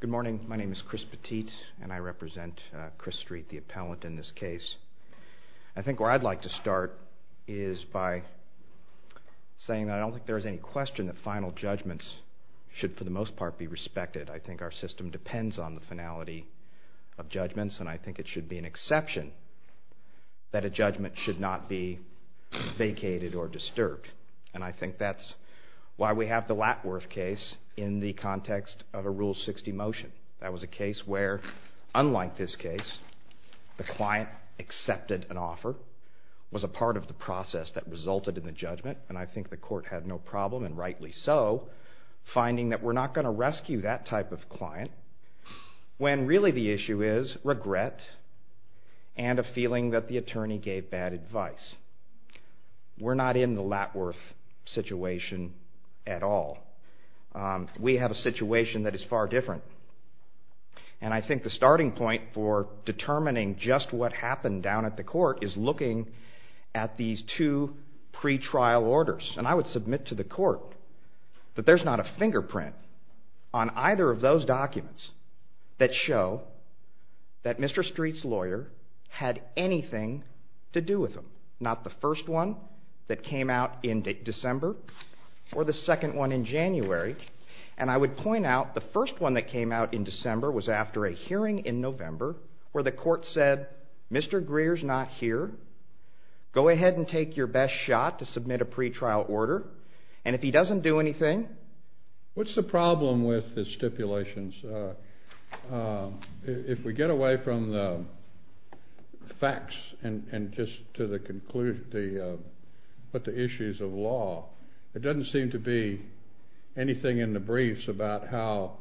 Good morning. My name is Chris Petit, and I represent Chriss Street, the appellant in this case. I think where I'd like to start is by saying that I don't think there is any question that final judgments should, for the most part, be respected. I think our system depends on the finality of judgments, and I think it should be an exception that a judgment should not be vacated or disturbed. And I think that's why we have the Latworth case in the context of a Rule 60 motion. That was a case where, unlike this case, the client accepted an offer, was a part of the process that resulted in the judgment, and I think the court had no problem, and rightly so, finding that we're not going to rescue that type of client, when really the issue is regret and a feeling that the attorney gave bad advice. We're not in the Latworth situation at all. We have a situation that is far different, and I think the starting point for determining just what happened down at the court is looking at these two pretrial orders. And I would submit to the court that there's not a fingerprint on either of those documents that show that Mr. Street's lawyer had anything to do with him. Not the first one that came out in December, or the second one in January. And I would point out the first one that came out in December was after a hearing in November, where the court said, Mr. Greer's not here. Go ahead and take your best shot to submit a pretrial order. And if he doesn't do anything... What's the problem with the stipulations? If we get away from the facts, and just to the conclusion, the issues of law, it doesn't seem to be anything in the briefs about how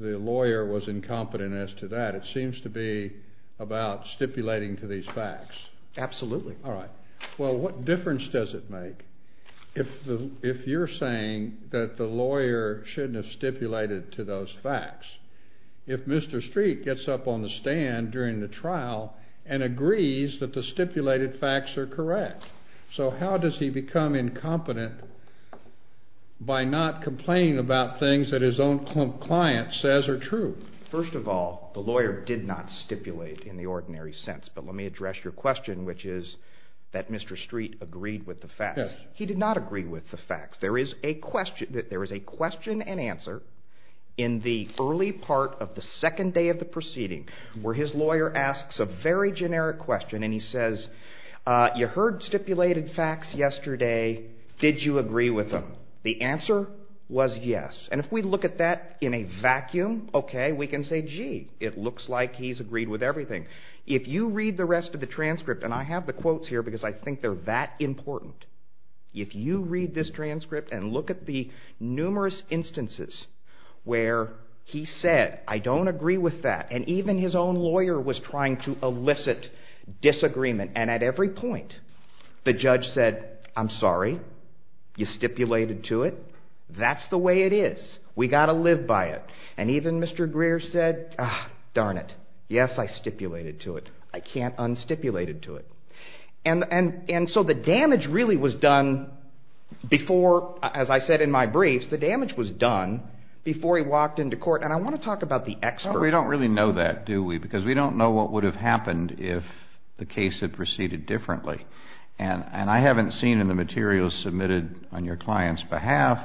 the lawyer was incompetent as to that. It seems to be about stipulating to these facts. Absolutely. All right. Well, what difference does it make if you're saying that the lawyer shouldn't have stipulated to those facts, if Mr. Street gets up on the stand during the trial and agrees that the stipulated facts are correct? So how does he become incompetent by not complaining about things that his own client says are true? First of all, the lawyer did not stipulate in the ordinary sense. But let me He did not agree with the facts. There is a question and answer in the early part of the second day of the proceeding, where his lawyer asks a very generic question. And he says, you heard stipulated facts yesterday. Did you agree with them? The answer was yes. And if we look at that in a vacuum, okay, we can say, gee, it looks like he's agreed with everything. If you read the rest of the transcript, and I have the quotes here, because I think they're that important. If you read this transcript and look at the numerous instances where he said, I don't agree with that. And even his own lawyer was trying to elicit disagreement. And at every point, the judge said, I'm sorry, you stipulated to it. That's the way it is. We got to live by it. And even Mr. Greer said, darn it. Yes, I stipulated to it. I can't unstipulated to it. And so the damage really was done before, as I said in my briefs, the damage was done before he walked into court. And I want to talk about the expert. We don't really know that, do we? Because we don't know what would have happened if the case had proceeded differently. And I haven't seen in the materials submitted on your client's behalf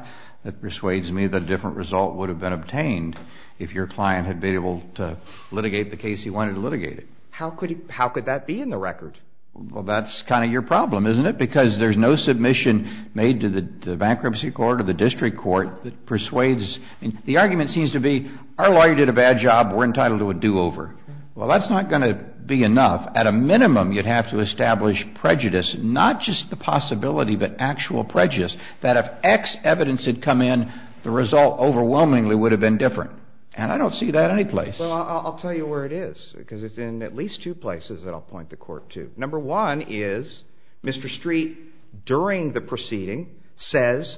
that persuades me that a different result would have been obtained if your client had been able to litigate the case he wanted to litigate it. How could that be in the record? Well, that's kind of your problem, isn't it? Because there's no submission made to the bankruptcy court or the district court that persuades. And the argument seems to be our lawyer did a bad job. We're entitled to a do over. Well, that's not going to be enough. At a minimum, you'd have to establish prejudice, not just the possibility, but actual prejudice that if X evidence had come in, the result overwhelmingly would have been different. And I don't see that any place. I'll tell you where it is, because it's in at least two places that I'll point the court to. Number one is Mr. Street during the proceeding says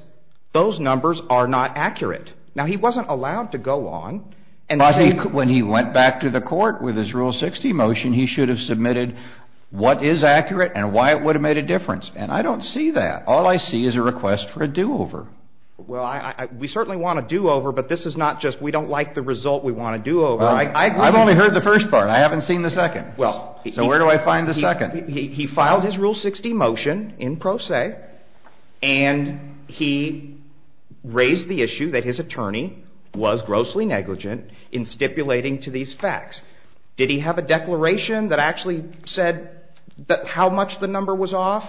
those numbers are not accurate. Now, he wasn't allowed to go on. And I think when he went back to the court with his rule 60 motion, he should have submitted what is accurate and why it would have made a difference. And I don't see that. All I see is a request for a do over. Well, we certainly want to do over, but this is not just we don't like the result. We want to do over. I've only heard the first part. I haven't seen the second. Well, so where do I find the second? He filed his rule 60 motion in pro se and he raised the issue that his attorney was grossly negligent in stipulating to these facts. Did he have a declaration that actually said that how much the number was off?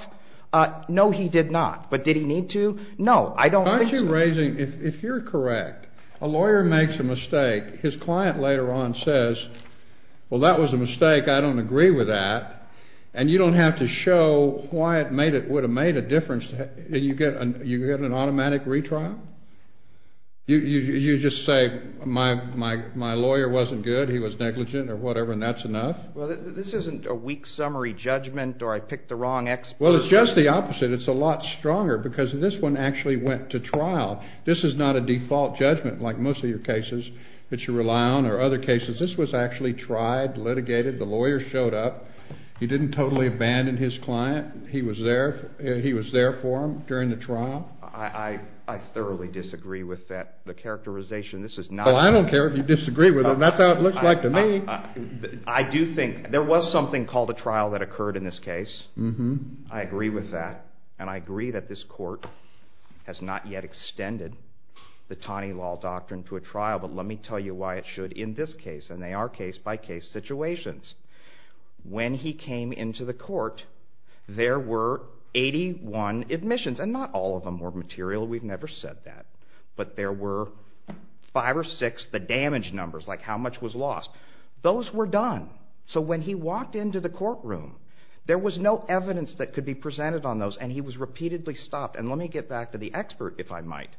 No, he did not. But did he need to? No, I don't think so. If you're correct, a lawyer makes a mistake. His client later on says, well, that was a mistake. I don't agree with that. And you don't have to show why it would have made a difference. You get an automatic retrial? You just say my lawyer wasn't good, he was negligent or whatever, and that's enough? Well, this isn't a weak summary judgment or I picked the wrong expert. Well, it's just the opposite. It's a lot stronger because this one actually went to trial. This is not a default judgment like most of your cases that you rely on or other cases. This was actually tried, litigated. The lawyer showed up. He didn't totally abandon his client. He was there for him during the trial. I thoroughly disagree with that characterization. Well, I don't care if you disagree with it. That's how it looks like to me. I do think there was something called a trial that occurred in this case. I agree with that. And I agree that this court has not yet extended the Taney law doctrine to a trial, but let me tell you why it should in this case. And they are case-by-case situations. When he came into the court, there were 81 admissions. And not all of them were material. We've never said that. But there were five or six, the damage numbers, like how much was lost. Those were done. So when he walked into the courtroom, there was no evidence that could be presented on those. And he was repeatedly stopped. And let me get back to the expert, if I might.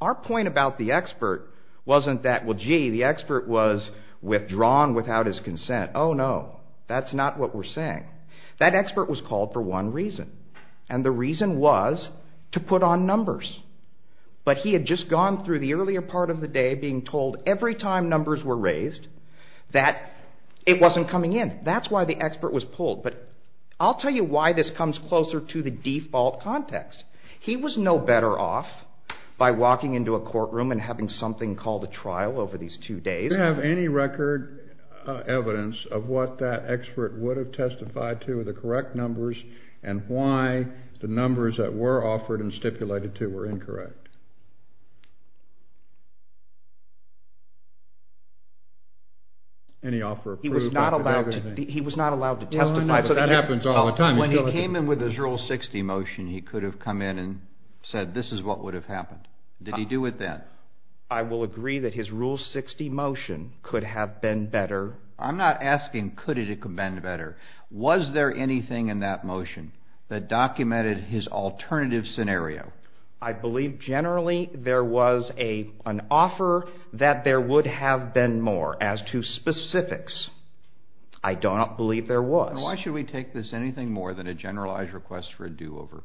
Our point about the expert wasn't that, well, gee, the expert was withdrawn without his consent. Oh, no. That's not what we're saying. That expert was called for one reason. And the reason was to put on numbers. But he had just gone through the earlier part of the day being told every time numbers were raised that it wasn't coming in. That's why expert was pulled. But I'll tell you why this comes closer to the default context. He was no better off by walking into a courtroom and having something called a trial over these two days. Do you have any record evidence of what that expert would have testified to with the correct numbers and why the numbers that were offered and stipulated to were incorrect? He was not allowed to testify. That happens all the time. When he came in with his Rule 60 motion, he could have come in and said, this is what would have happened. Did he do it then? I will agree that his Rule 60 motion could have been better. I'm not asking could it have been better. Was there anything in that motion that documented there was an offer that there would have been more as to specifics? I do not believe there was. Why should we take this anything more than a generalized request for a do-over?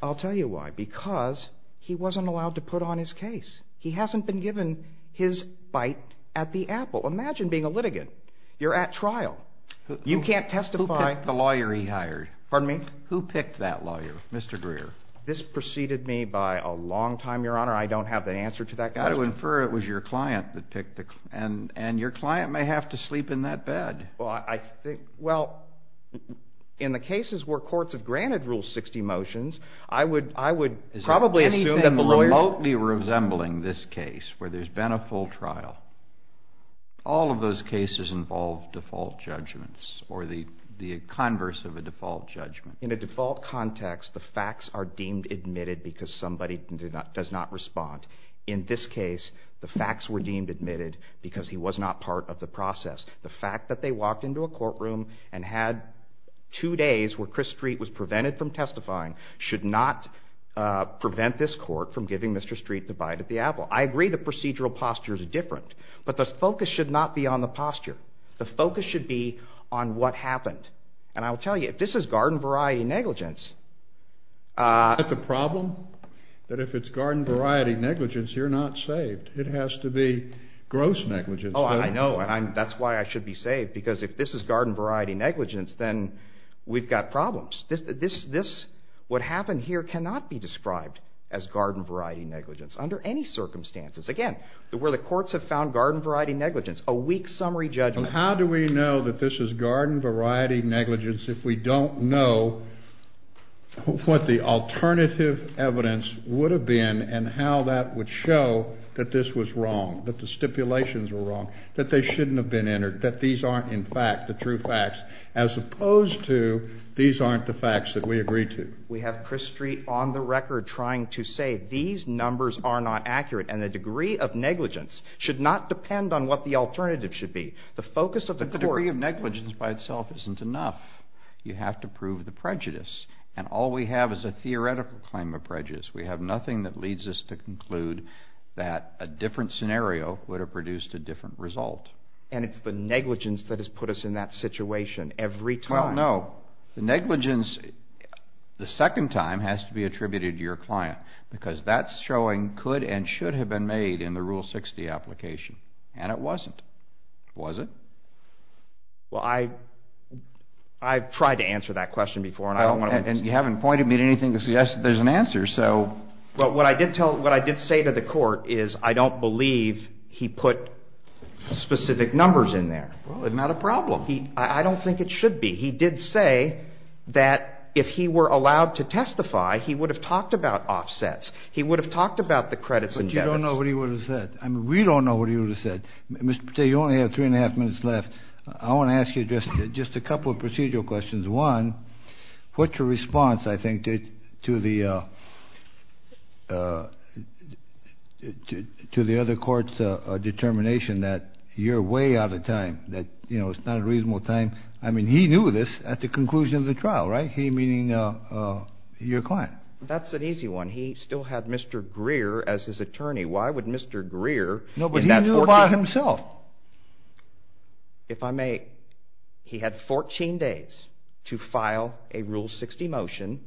I'll tell you why. Because he wasn't allowed to put on his case. He hasn't been given his bite at the apple. Imagine being a litigant. You're at trial. You can't testify. Who picked the lawyer he hired? Pardon me? Who picked that lawyer, Mr. Greer? This preceded me by a long time, Your Honor. I don't have the answer to that question. I would infer it was your client that picked it. And your client may have to sleep in that bed. Well, I think, well, in the cases where courts have granted Rule 60 motions, I would probably assume that the lawyer— Is there anything remotely resembling this case where there's been a full trial? All of those cases involve default judgments or the converse of a default judgment. In a default context, the facts are deemed admitted because somebody does not respond. In this case, the facts were deemed admitted because he was not part of the process. The fact that they walked into a courtroom and had two days where Chris Street was prevented from testifying should not prevent this court from giving Mr. Street the bite at the apple. I agree the procedural posture is different, but the focus should not be on the negligence. Isn't that the problem? That if it's garden variety negligence, you're not saved. It has to be gross negligence. Oh, I know, and that's why I should be saved, because if this is garden variety negligence, then we've got problems. What happened here cannot be described as garden variety negligence under any circumstances. Again, where the courts have found garden variety negligence, a weak summary judgment— What the alternative evidence would have been and how that would show that this was wrong, that the stipulations were wrong, that they shouldn't have been entered, that these aren't, in fact, the true facts, as opposed to these aren't the facts that we agreed to. We have Chris Street on the record trying to say these numbers are not accurate, and the degree of negligence should not depend on what the alternative should be. The focus of the court— And all we have is a theoretical claim of prejudice. We have nothing that leads us to conclude that a different scenario would have produced a different result. And it's the negligence that has put us in that situation every time. Well, no. The negligence the second time has to be attributed to your client, because that's showing could and should have been made in the Rule 60 application, and it wasn't. Was it? Well, I've tried to answer that question before, and I don't want to— And you haven't pointed me to anything to suggest that there's an answer, so— But what I did tell—what I did say to the court is I don't believe he put specific numbers in there. Well, it's not a problem. He—I don't think it should be. He did say that if he were allowed to testify, he would have talked about offsets. He would have talked about the credits and debits. But you don't know what he would have said. I mean, we don't know what he would have said. Mr. Patel, you only have three and a half minutes left. I want to ask you just a couple of procedural questions. One, what's your response, I think, to the other court's determination that you're way out of time, that, you know, it's not a reasonable time? I mean, he knew this at the conclusion of the trial, right? He meaning your client. That's an easy one. He still had Mr. Greer as his attorney. Why would Mr. Greer— No, but he knew by himself. If I may, he had 14 days to file a Rule 60 motion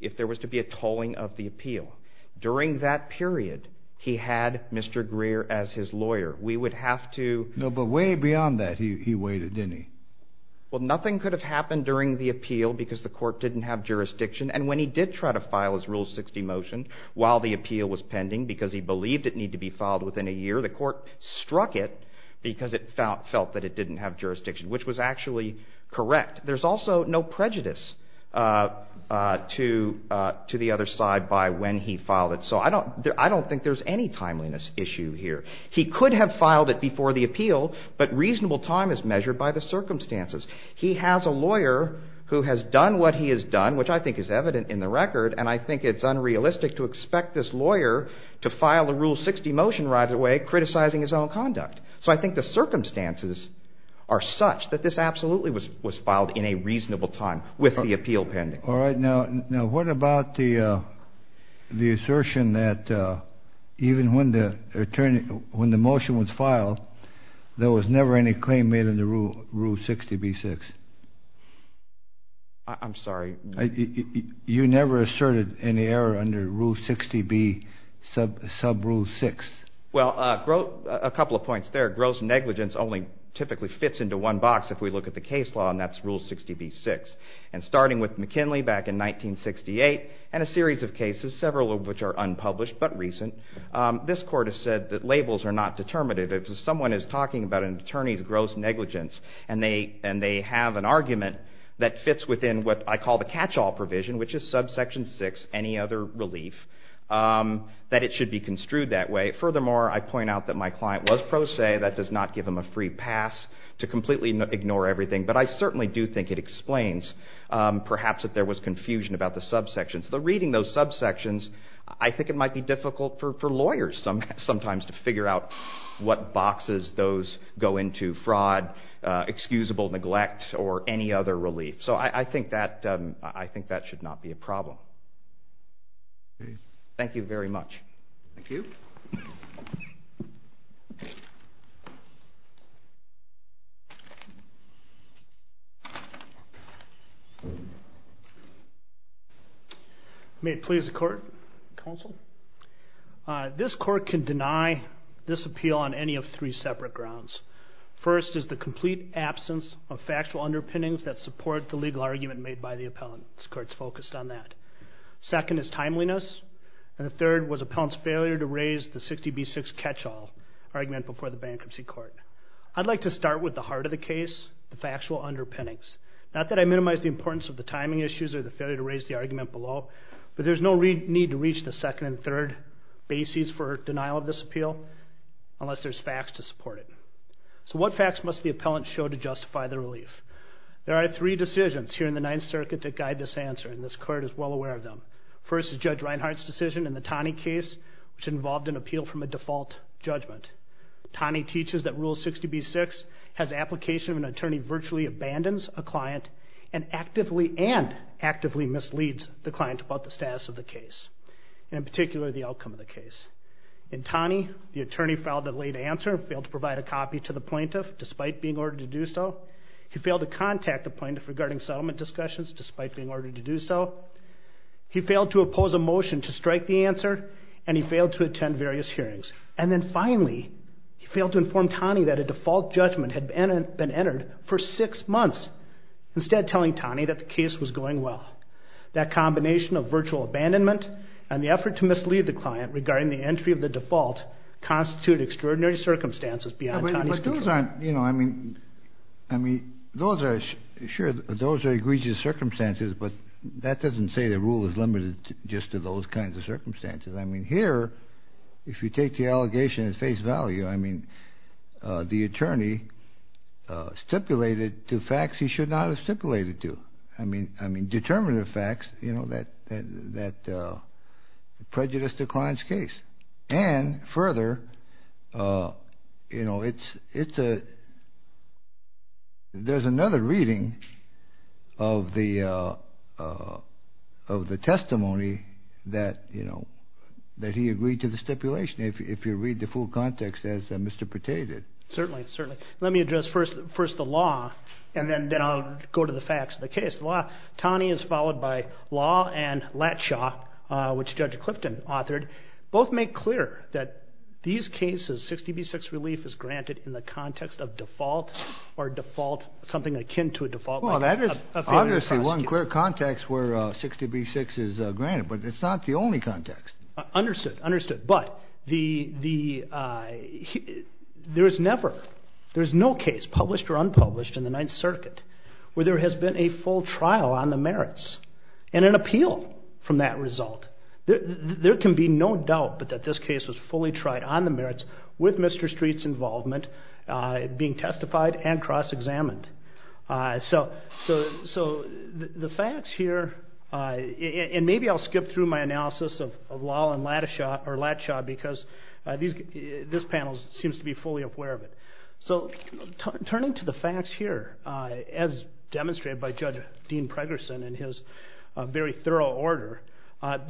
if there was to be a tolling of the appeal. During that period, he had Mr. Greer as his lawyer. We would have to— No, but way beyond that, he waited, didn't he? Well, nothing could have happened during the appeal because the court didn't have jurisdiction. And when he did try to file his Rule 60 motion while the appeal was pending because he believed it needed to be filed within a year, the court struck it because it felt that it didn't have jurisdiction, which was actually correct. There's also no prejudice to the other side by when he filed it. So I don't think there's any timeliness issue here. He could have filed it before the appeal, but reasonable time is measured by the circumstances. He has a lawyer who has done what he has done, which I think is evident in the record, and I think it's unrealistic to expect this lawyer to file a Rule 60 motion right away criticizing his own conduct. So I think the circumstances are such that this absolutely was filed in a reasonable time with the appeal pending. All right. Now, what about the assertion that even when the motion was filed, there was never any claim made in the Rule 60b-6? I'm sorry? You never asserted any error under Rule 60b sub-Rule 6? Well, a couple of points there. Gross negligence only typically fits into one box if we look at the case law, and that's Rule 60b-6. And starting with McKinley back in 1968 and a series of cases, several of which are unpublished but recent, this court has said that labels are not determinative. If someone is talking about an attorney's gross negligence and they have an argument that fits within what I call the catch-all provision, which is subsection 6, any other relief, that it should be construed that way. Furthermore, I point out that my client was pro se. That does not give him a free pass to completely ignore everything, but I certainly do think it explains perhaps that there was confusion about the subsections. The reading of those subsections, I think it might be difficult for lawyers sometimes to figure out what boxes those go into. Fraud, excusable neglect, or any other relief. So I think that should not be a problem. Thank you very much. Thank you. May it please the court, counsel. This court can deny this appeal on any of three separate grounds. First is the complete absence of factual underpinnings that support the legal argument made by the appellant. This court's focused on that. Second is timeliness, and the third was the appellant's failure to raise the 60B6 catch-all argument before the bankruptcy court. I'd like to start with the heart of the case, the factual underpinnings. Not that I minimize the importance of the timing issues or the failure to raise the argument below, but there's no need to reach the second and third bases for denial of this appeal unless there's facts to support it. So what facts must the appellant show to justify the relief? There are three decisions here in the Ninth Circuit that guide this answer, and this court is well aware of them. First is Judge Taney's case, which involved an appeal from a default judgment. Taney teaches that Rule 60B6 has application when an attorney virtually abandons a client and actively and actively misleads the client about the status of the case, and in particular the outcome of the case. In Taney, the attorney filed a late answer and failed to provide a copy to the plaintiff despite being ordered to do so. He failed to contact the plaintiff regarding settlement discussions despite being ordered to do so. He failed to oppose a motion to strike the answer, and he failed to attend various hearings. And then finally, he failed to inform Taney that a default judgment had been entered for six months, instead telling Taney that the case was going well. That combination of virtual abandonment and the effort to mislead the client regarding the entry of the default constitute extraordinary circumstances beyond Taney's control. You know, I mean, sure, those are egregious circumstances, but that doesn't say the rule is limited just to those kinds of circumstances. I mean, here, if you take the allegation at face value, I mean, the attorney stipulated to facts he should not have stipulated to. I mean, determinative facts, you know, that prejudice declines case. And further, you know, there's another reading of the testimony that, you know, that he agreed to the stipulation, if you read the full context as Mr. Pate did. Certainly, certainly. Let me address first the law, and then I'll go to the facts of the case. The law, Taney is followed by law and Latshaw, which Judge Clifton authored, both make clear that these cases, 60B6 relief is granted in the context of default or default, something akin to a default. Well, that is obviously one clear context where 60B6 is granted, but it's not the only context. Understood, understood. But the, there's never, there's no case published or unpublished in the Ninth Circuit where there has been a full trial on the merits and an appeal from that result. There can be no doubt, but that this case was fully tried on the merits with Mr. Street's involvement, being testified and cross-examined. So, so, so the facts here, and maybe I'll skip through my analysis of law and Latshaw, or Latshaw, because these, this panel seems to be fully aware of it. So, turning to the facts here, as demonstrated by Judge Dean Pregerson in his very thorough order,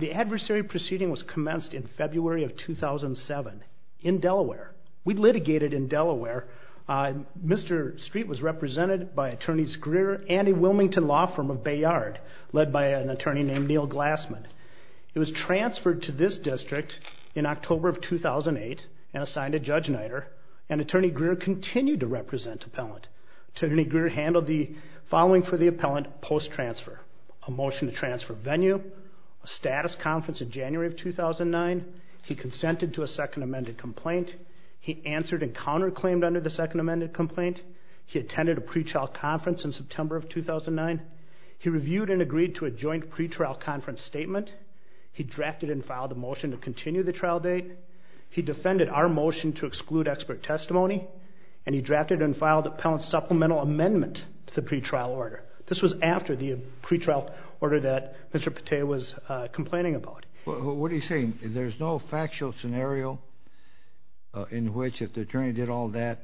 the adversary proceeding was commenced in February of 2007 in Delaware. We litigated in Delaware. Mr. Street was represented by Attorneys Greer and the Wilmington Law Firm of Bay Yard, led by an attorney named Neil Glassman. He was transferred to this district in October of 2008 and assigned to Judge Niter, and Attorney Greer continued to represent appellant. Attorney Greer handled the following for the appellant post-transfer, a motion to transfer venue, a status conference in January of 2009. He consented to a second amended complaint. He answered and counterclaimed under the second amended complaint. He attended a pre-trial conference in September of 2009. He reviewed and agreed to a joint pre-trial conference statement. He drafted and filed a motion to continue the trial date. He defended our motion to exclude expert testimony, and he drafted and filed appellant supplemental amendment to the pre-trial order. This was after the pre-trial order that Mr. Pate was complaining about. What are you saying? There's no factual scenario in which if the attorney did all that,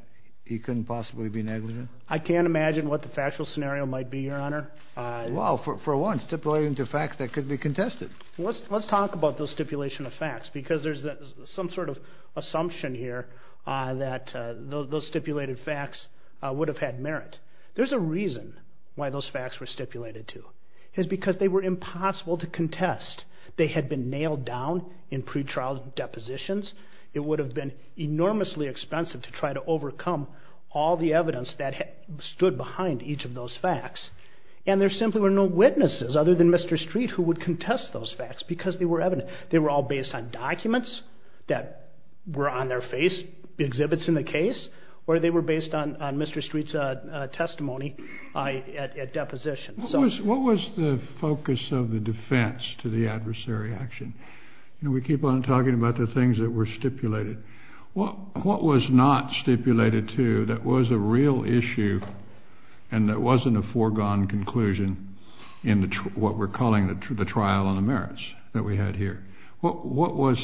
he couldn't possibly be negligent? I can't imagine what the factual scenario might be, your honor. Well, for one, stipulating the facts that could be contested. Let's talk about those stipulation of facts, because there's some sort of assumption here that those stipulated facts would have had merit. There's a reason why those facts were stipulated to, is because they were impossible to contest. They had been nailed down in pre-trial depositions. It would have been enormously expensive to try to stood behind each of those facts, and there simply were no witnesses other than Mr. Street who would contest those facts, because they were evident. They were all based on documents that were on their face, exhibits in the case, or they were based on Mr. Street's testimony at deposition. What was the focus of the defense to the adversary action? You know, we keep on talking about the stipulation. What was not stipulated to that was a real issue and that wasn't a foregone conclusion in what we're calling the trial on the merits that we had here? What was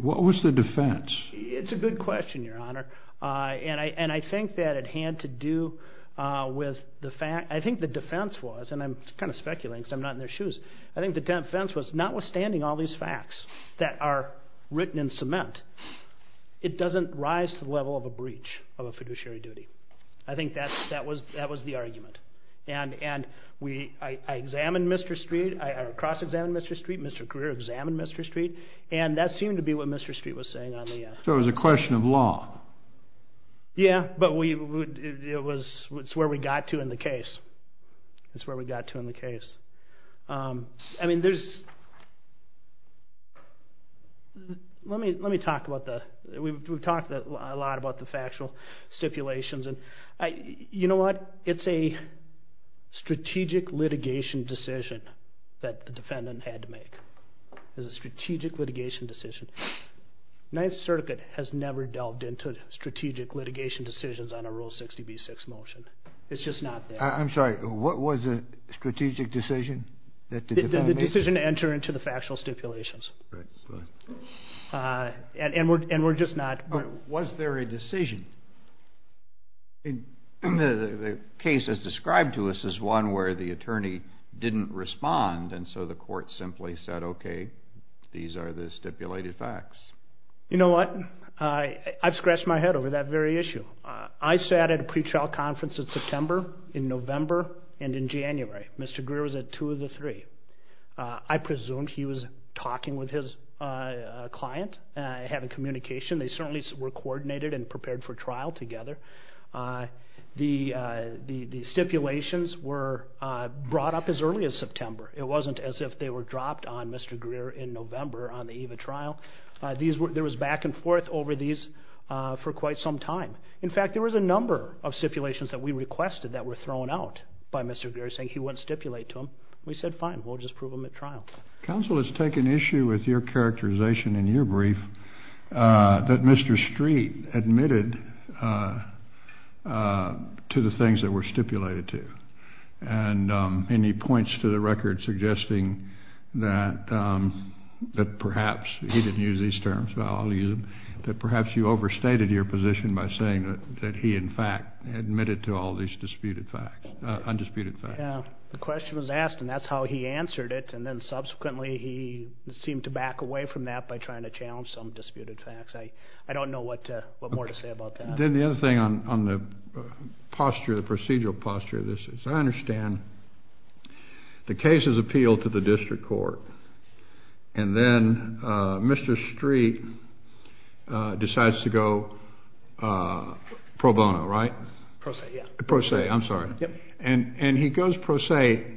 the defense? It's a good question, your honor, and I think that it had to do with the fact, I think the defense was, and I'm kind of speculating because I'm not in their shoes, I think the defense was, notwithstanding all these facts that are written in cement, it doesn't rise to the level of a breach of a fiduciary duty. I think that was the argument, and I examined Mr. Street, I cross-examined Mr. Street, Mr. Greer examined Mr. Street, and that seemed to be what Mr. Street was saying on the... So it was a question of law? Yeah, but it's where we got to in the case. It's where we got to in the case. I mean, there's... Let me talk about the... We've talked a lot about the factual stipulations, and you know what? It's a strategic litigation decision that the defendant had to make. It's a strategic litigation decision. Ninth Circuit has never delved into strategic litigation decisions on a Rule 60B6 motion. It's just not there. I'm sorry, what was the strategic decision that the defendant made? The decision to enter into the factual stipulations. Right, right. And we're just not... Was there a decision? The case is described to us as one where the attorney didn't respond, and so the court simply said, okay, these are the stipulated facts. You know what? I've scratched my head over that very issue. I sat at a pretrial conference in November and in January. Mr. Greer was at two of the three. I presumed he was talking with his client, having communication. They certainly were coordinated and prepared for trial together. The stipulations were brought up as early as September. It wasn't as if they were dropped on Mr. Greer in November on the eve of trial. There was back and forth over these for quite some time. In fact, there was a number of stipulations that we requested that were thrown out by Mr. Greer, saying he wouldn't stipulate to them. We said, fine, we'll just prove them at trial. Counsel has taken issue with your characterization in your brief that Mr. Street admitted to the things that were stipulated to. And he points to the record suggesting that perhaps, he didn't use these terms, but I'll use them, that perhaps you overstated your position by saying that he, in fact, admitted to all these undisputed facts. Yeah. The question was asked and that's how he answered it. And then subsequently, he seemed to back away from that by trying to challenge some disputed facts. I don't know what more to say about that. Then the other thing on the procedural posture of this is, I understand the case is appealed to the district court. And then Mr. Street decides to go pro bono, right? Pro se, yeah. Pro se, I'm sorry. And he goes pro se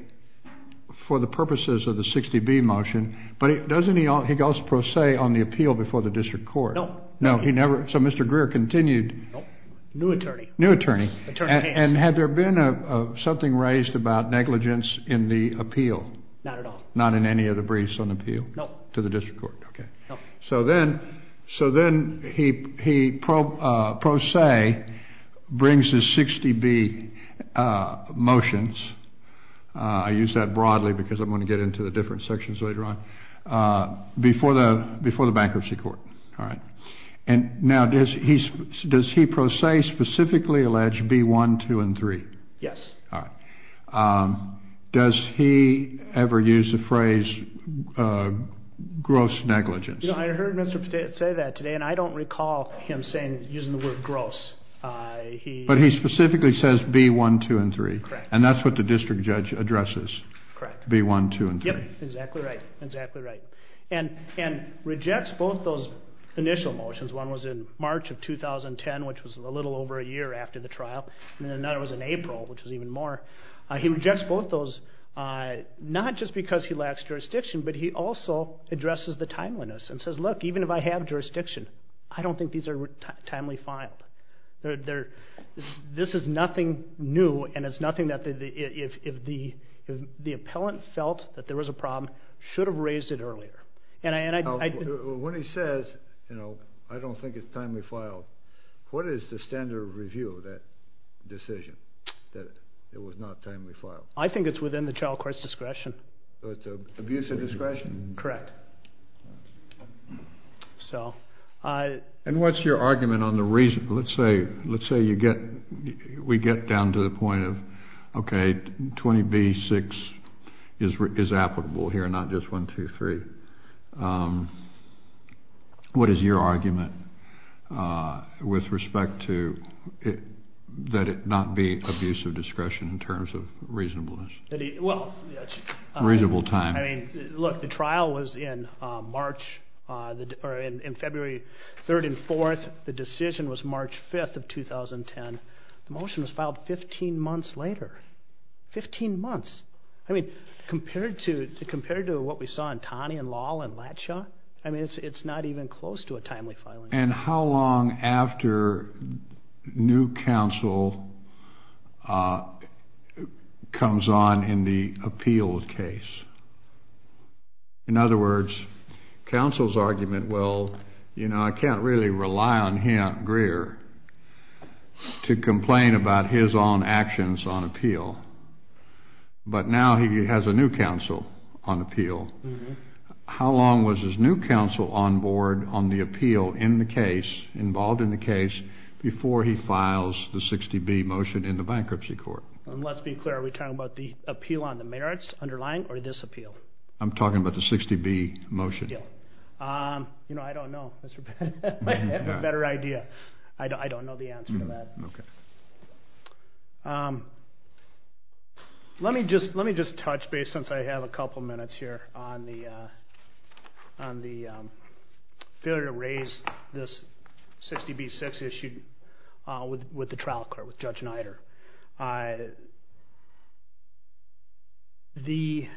for the purposes of the 60B motion. But doesn't he also go pro se on the appeal before the district court? No. No, he never? So Mr. Greer continued. No, new attorney. New attorney. Attorney Hanson. And had there been something raised about negligence in the appeal? Not at all. Not in any of the briefs on appeal? No. To the district court. Okay. No. So then he pro se brings his 60B motions. I use that broadly because I'm going to get into the different sections later on, before the bankruptcy court. All right. And now, does he pro se specifically allege B1, 2, and 3? Yes. All right. Does he ever use the phrase gross negligence? You know, I heard Mr. Patel say that today, and I don't recall him saying, using the word gross. He... But he specifically says B1, 2, and 3. Correct. And that's what the district judge addresses. Correct. B1, 2, and 3. Yep. Exactly right. Exactly right. And rejects both those initial motions. One was in March of 2010, which was a little over a year after the trial. And then another was in April, which was even more. He rejects both those, not just because he lacks jurisdiction, but he also addresses the timeliness and says, look, even if I have jurisdiction, I don't think these are timely filed. This is nothing new, and it's nothing that if the appellant felt that there was a problem, should have raised it earlier. And I... When he says, you know, I don't think it's timely filed, what is the standard of review of that decision, that it was not timely filed? I think it's within the child court's discretion. So it's an abuse of discretion? Correct. So... And what's your argument on the reason? Let's say you get... We get down to the point of, okay, 20B-6 is applicable here, not just 1-2-3. What is your argument with respect to that it not be abuse of discretion in terms of reasonableness? Well... Reasonable time. I mean, look, the trial was in March, or in February 3rd and 4th. The decision was March 5th of 2010. The motion was filed 15 months later. 15 months. I mean, compared to what we saw in Taney and Lahl and Latshaw, I mean, it's not even close to a timely filing. And how long after new counsel comes on in the appealed case? In other words, counsel's going to rely on him, Greer, to complain about his own actions on appeal. But now he has a new counsel on appeal. How long was his new counsel on board on the appeal in the case, involved in the case, before he files the 60B motion in the bankruptcy court? And let's be clear. Are we talking about the appeal on the merits underlying or this appeal? I'm talking about the 60B motion. You know, I don't know. I have a better idea. I don't know the answer to that. Let me just touch base, since I have a couple minutes here, on the failure to raise this 60B6 issue with the trial court, with Judge Nider. Let me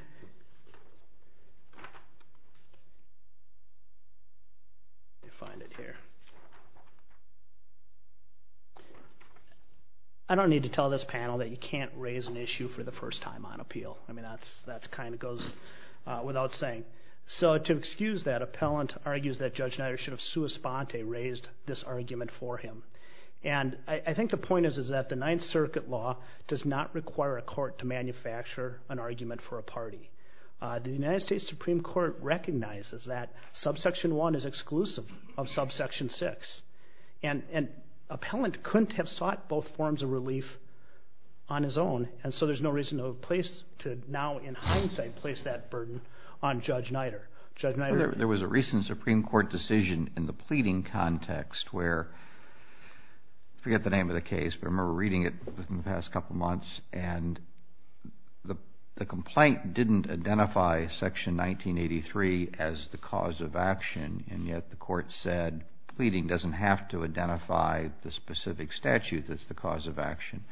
find it here. I don't need to tell this panel that you can't raise an issue for the first time on appeal. I mean, that kind of goes without saying. So to excuse that, appellant argues that Judge Nider raised this argument for him. And I think the point is that the Ninth Circuit law does not require a court to manufacture an argument for a party. The United States Supreme Court recognizes that subsection one is exclusive of subsection six. And an appellant couldn't have sought both forms of relief on his own. And so there's no reason to now, in hindsight, place that burden on Judge Nider. There was a recent Supreme Court decision in the pleading context where, forget the name of the case, but I remember reading it within the past couple months, and the complaint didn't identify section 1983 as the cause of action. And yet the court said pleading doesn't have to identify the specific statute that's the cause of action.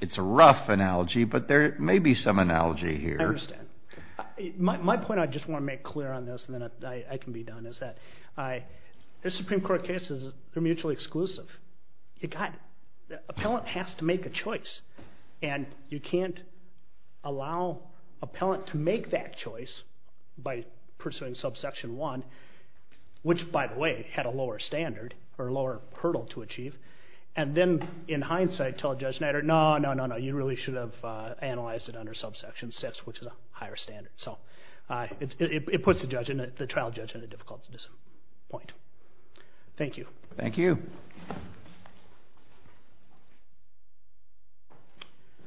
It's a rough analogy, but there may be some analogy here. I understand. My point I just want to make clear on this, and then I can be done, is that the Supreme Court cases, they're mutually exclusive. You got it. The appellant has to make a choice. And you can't allow appellant to make that choice by pursuing subsection one, which, by the way, had a lower standard, or a lower hurdle to achieve. And then, in hindsight, tell Judge Nider, no, no, no, no, you really should have analyzed it under subsection six, which is a higher standard. So it puts the trial judge in a difficult position. Thank you. Thank you.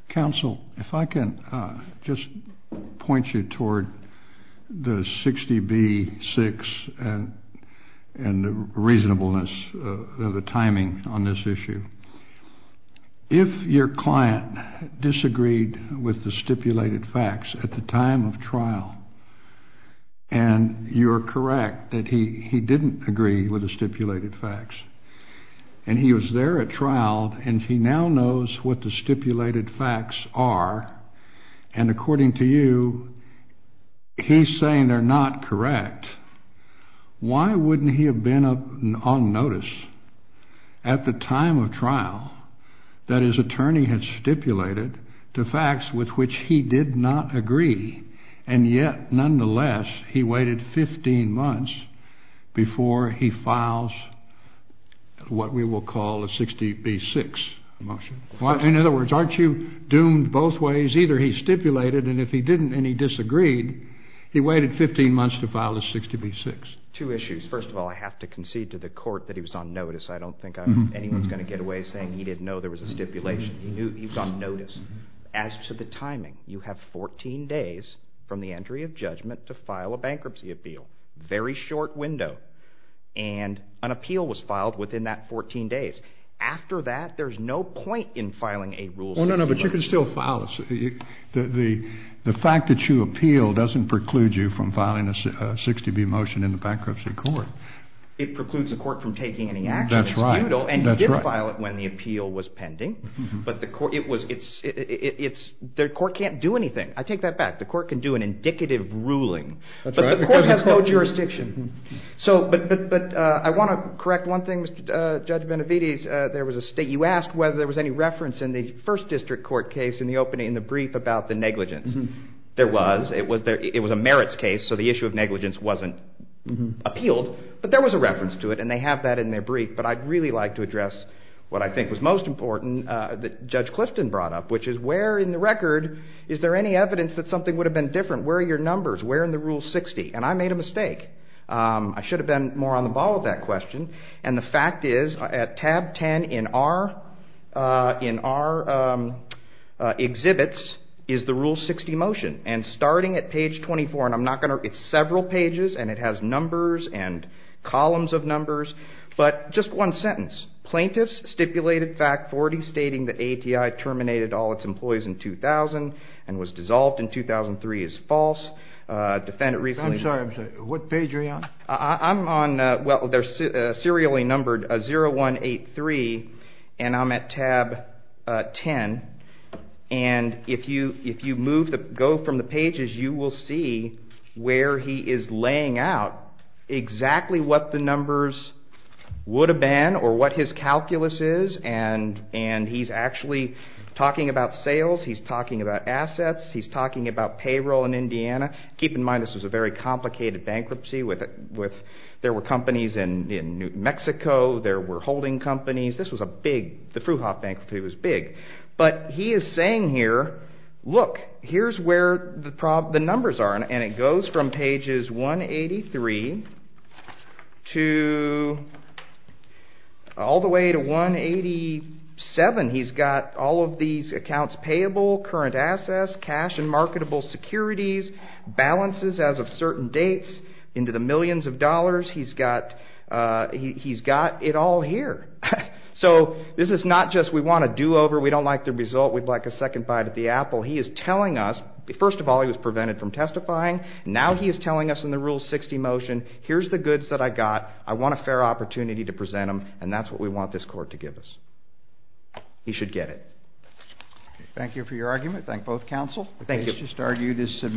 Counsel, if I can just point you toward the 60B-6 and the reasonableness of the timing on this issue. If your client disagreed with the stipulated facts at the time of trial, and you're correct that he didn't agree with the stipulated facts, and he was there at trial, and he now knows what the stipulated facts are, and according to you, he's saying they're not correct, why wouldn't he have been on notice at the time of trial? That his attorney had stipulated the facts with which he did not agree, and yet, nonetheless, he waited 15 months before he files what we will call a 60B-6 motion. In other words, aren't you doomed both ways? Either he stipulated, and if he didn't, and he disagreed, he waited 15 months to file a 60B-6. Two issues. First of all, I have to concede to the court that he was on notice. I don't think anyone's going to get away saying he didn't know there was a stipulation. He knew he was on notice. As to the timing, you have 14 days from the entry of judgment to file a bankruptcy appeal. Very short window, and an appeal was filed within that 14 days. After that, there's no point in filing a rule 60B-6. Well, no, no, but you can still file it. The fact that you appeal doesn't preclude you from filing a 60B motion in the bankruptcy court. It precludes the court from taking any action. That's right. And he did file it when the appeal was pending, but the court can't do anything. I take that back. The court can do an indicative ruling, but the court has no jurisdiction. I want to correct one thing, Judge Benavides. You asked whether there was any reference in the first district court case in the brief about the negligence. There was. It was a merits case, so the issue of negligence wasn't appealed, but there was a reference to it, and they have that in their brief, but I'd really like to address what I think was most important that Judge Clifton brought up, which is where in the record is there any evidence that something would have been different? Where are your numbers? Where in the rule 60? And I made a mistake. I should have been more on the ball with that question, and the fact is at tab 10 in our exhibits is the rule 60 motion, and starting at page 24, and I'm not going to... It's several numbers, but just one sentence. Plaintiffs stipulated fact 40 stating that ATI terminated all its employees in 2000 and was dissolved in 2003 is false. Defendant recently... I'm sorry. What page are you on? I'm on... Well, they're serially numbered 0183, and I'm at tab 10, and if you go from the pages, you will see where he is laying out exactly what the numbers would have been or what his calculus is, and he's actually talking about sales. He's talking about assets. He's talking about payroll in Indiana. Keep in mind, this was a very complicated bankruptcy. There were companies in New Mexico. There were holding companies. This was a big... The Fruhauf bankruptcy was big, but he is saying here, look, here's where the numbers are, and it goes from pages 183 all the way to 187. He's got all of these accounts payable, current assets, cash and marketable securities, balances as of certain dates into the millions of dollars. He's got it all here. So this is not just we want a do-over. We don't like the result. We'd like a second bite at the apple. He is telling us... First of all, he was prevented from testifying. Now he is telling us in the Rule 60 motion, here's the goods that I got. I want a fair opportunity to present them, and that's what we want this court to give us. He should get it. Thank you for your argument. Thank both counsel. Thank you.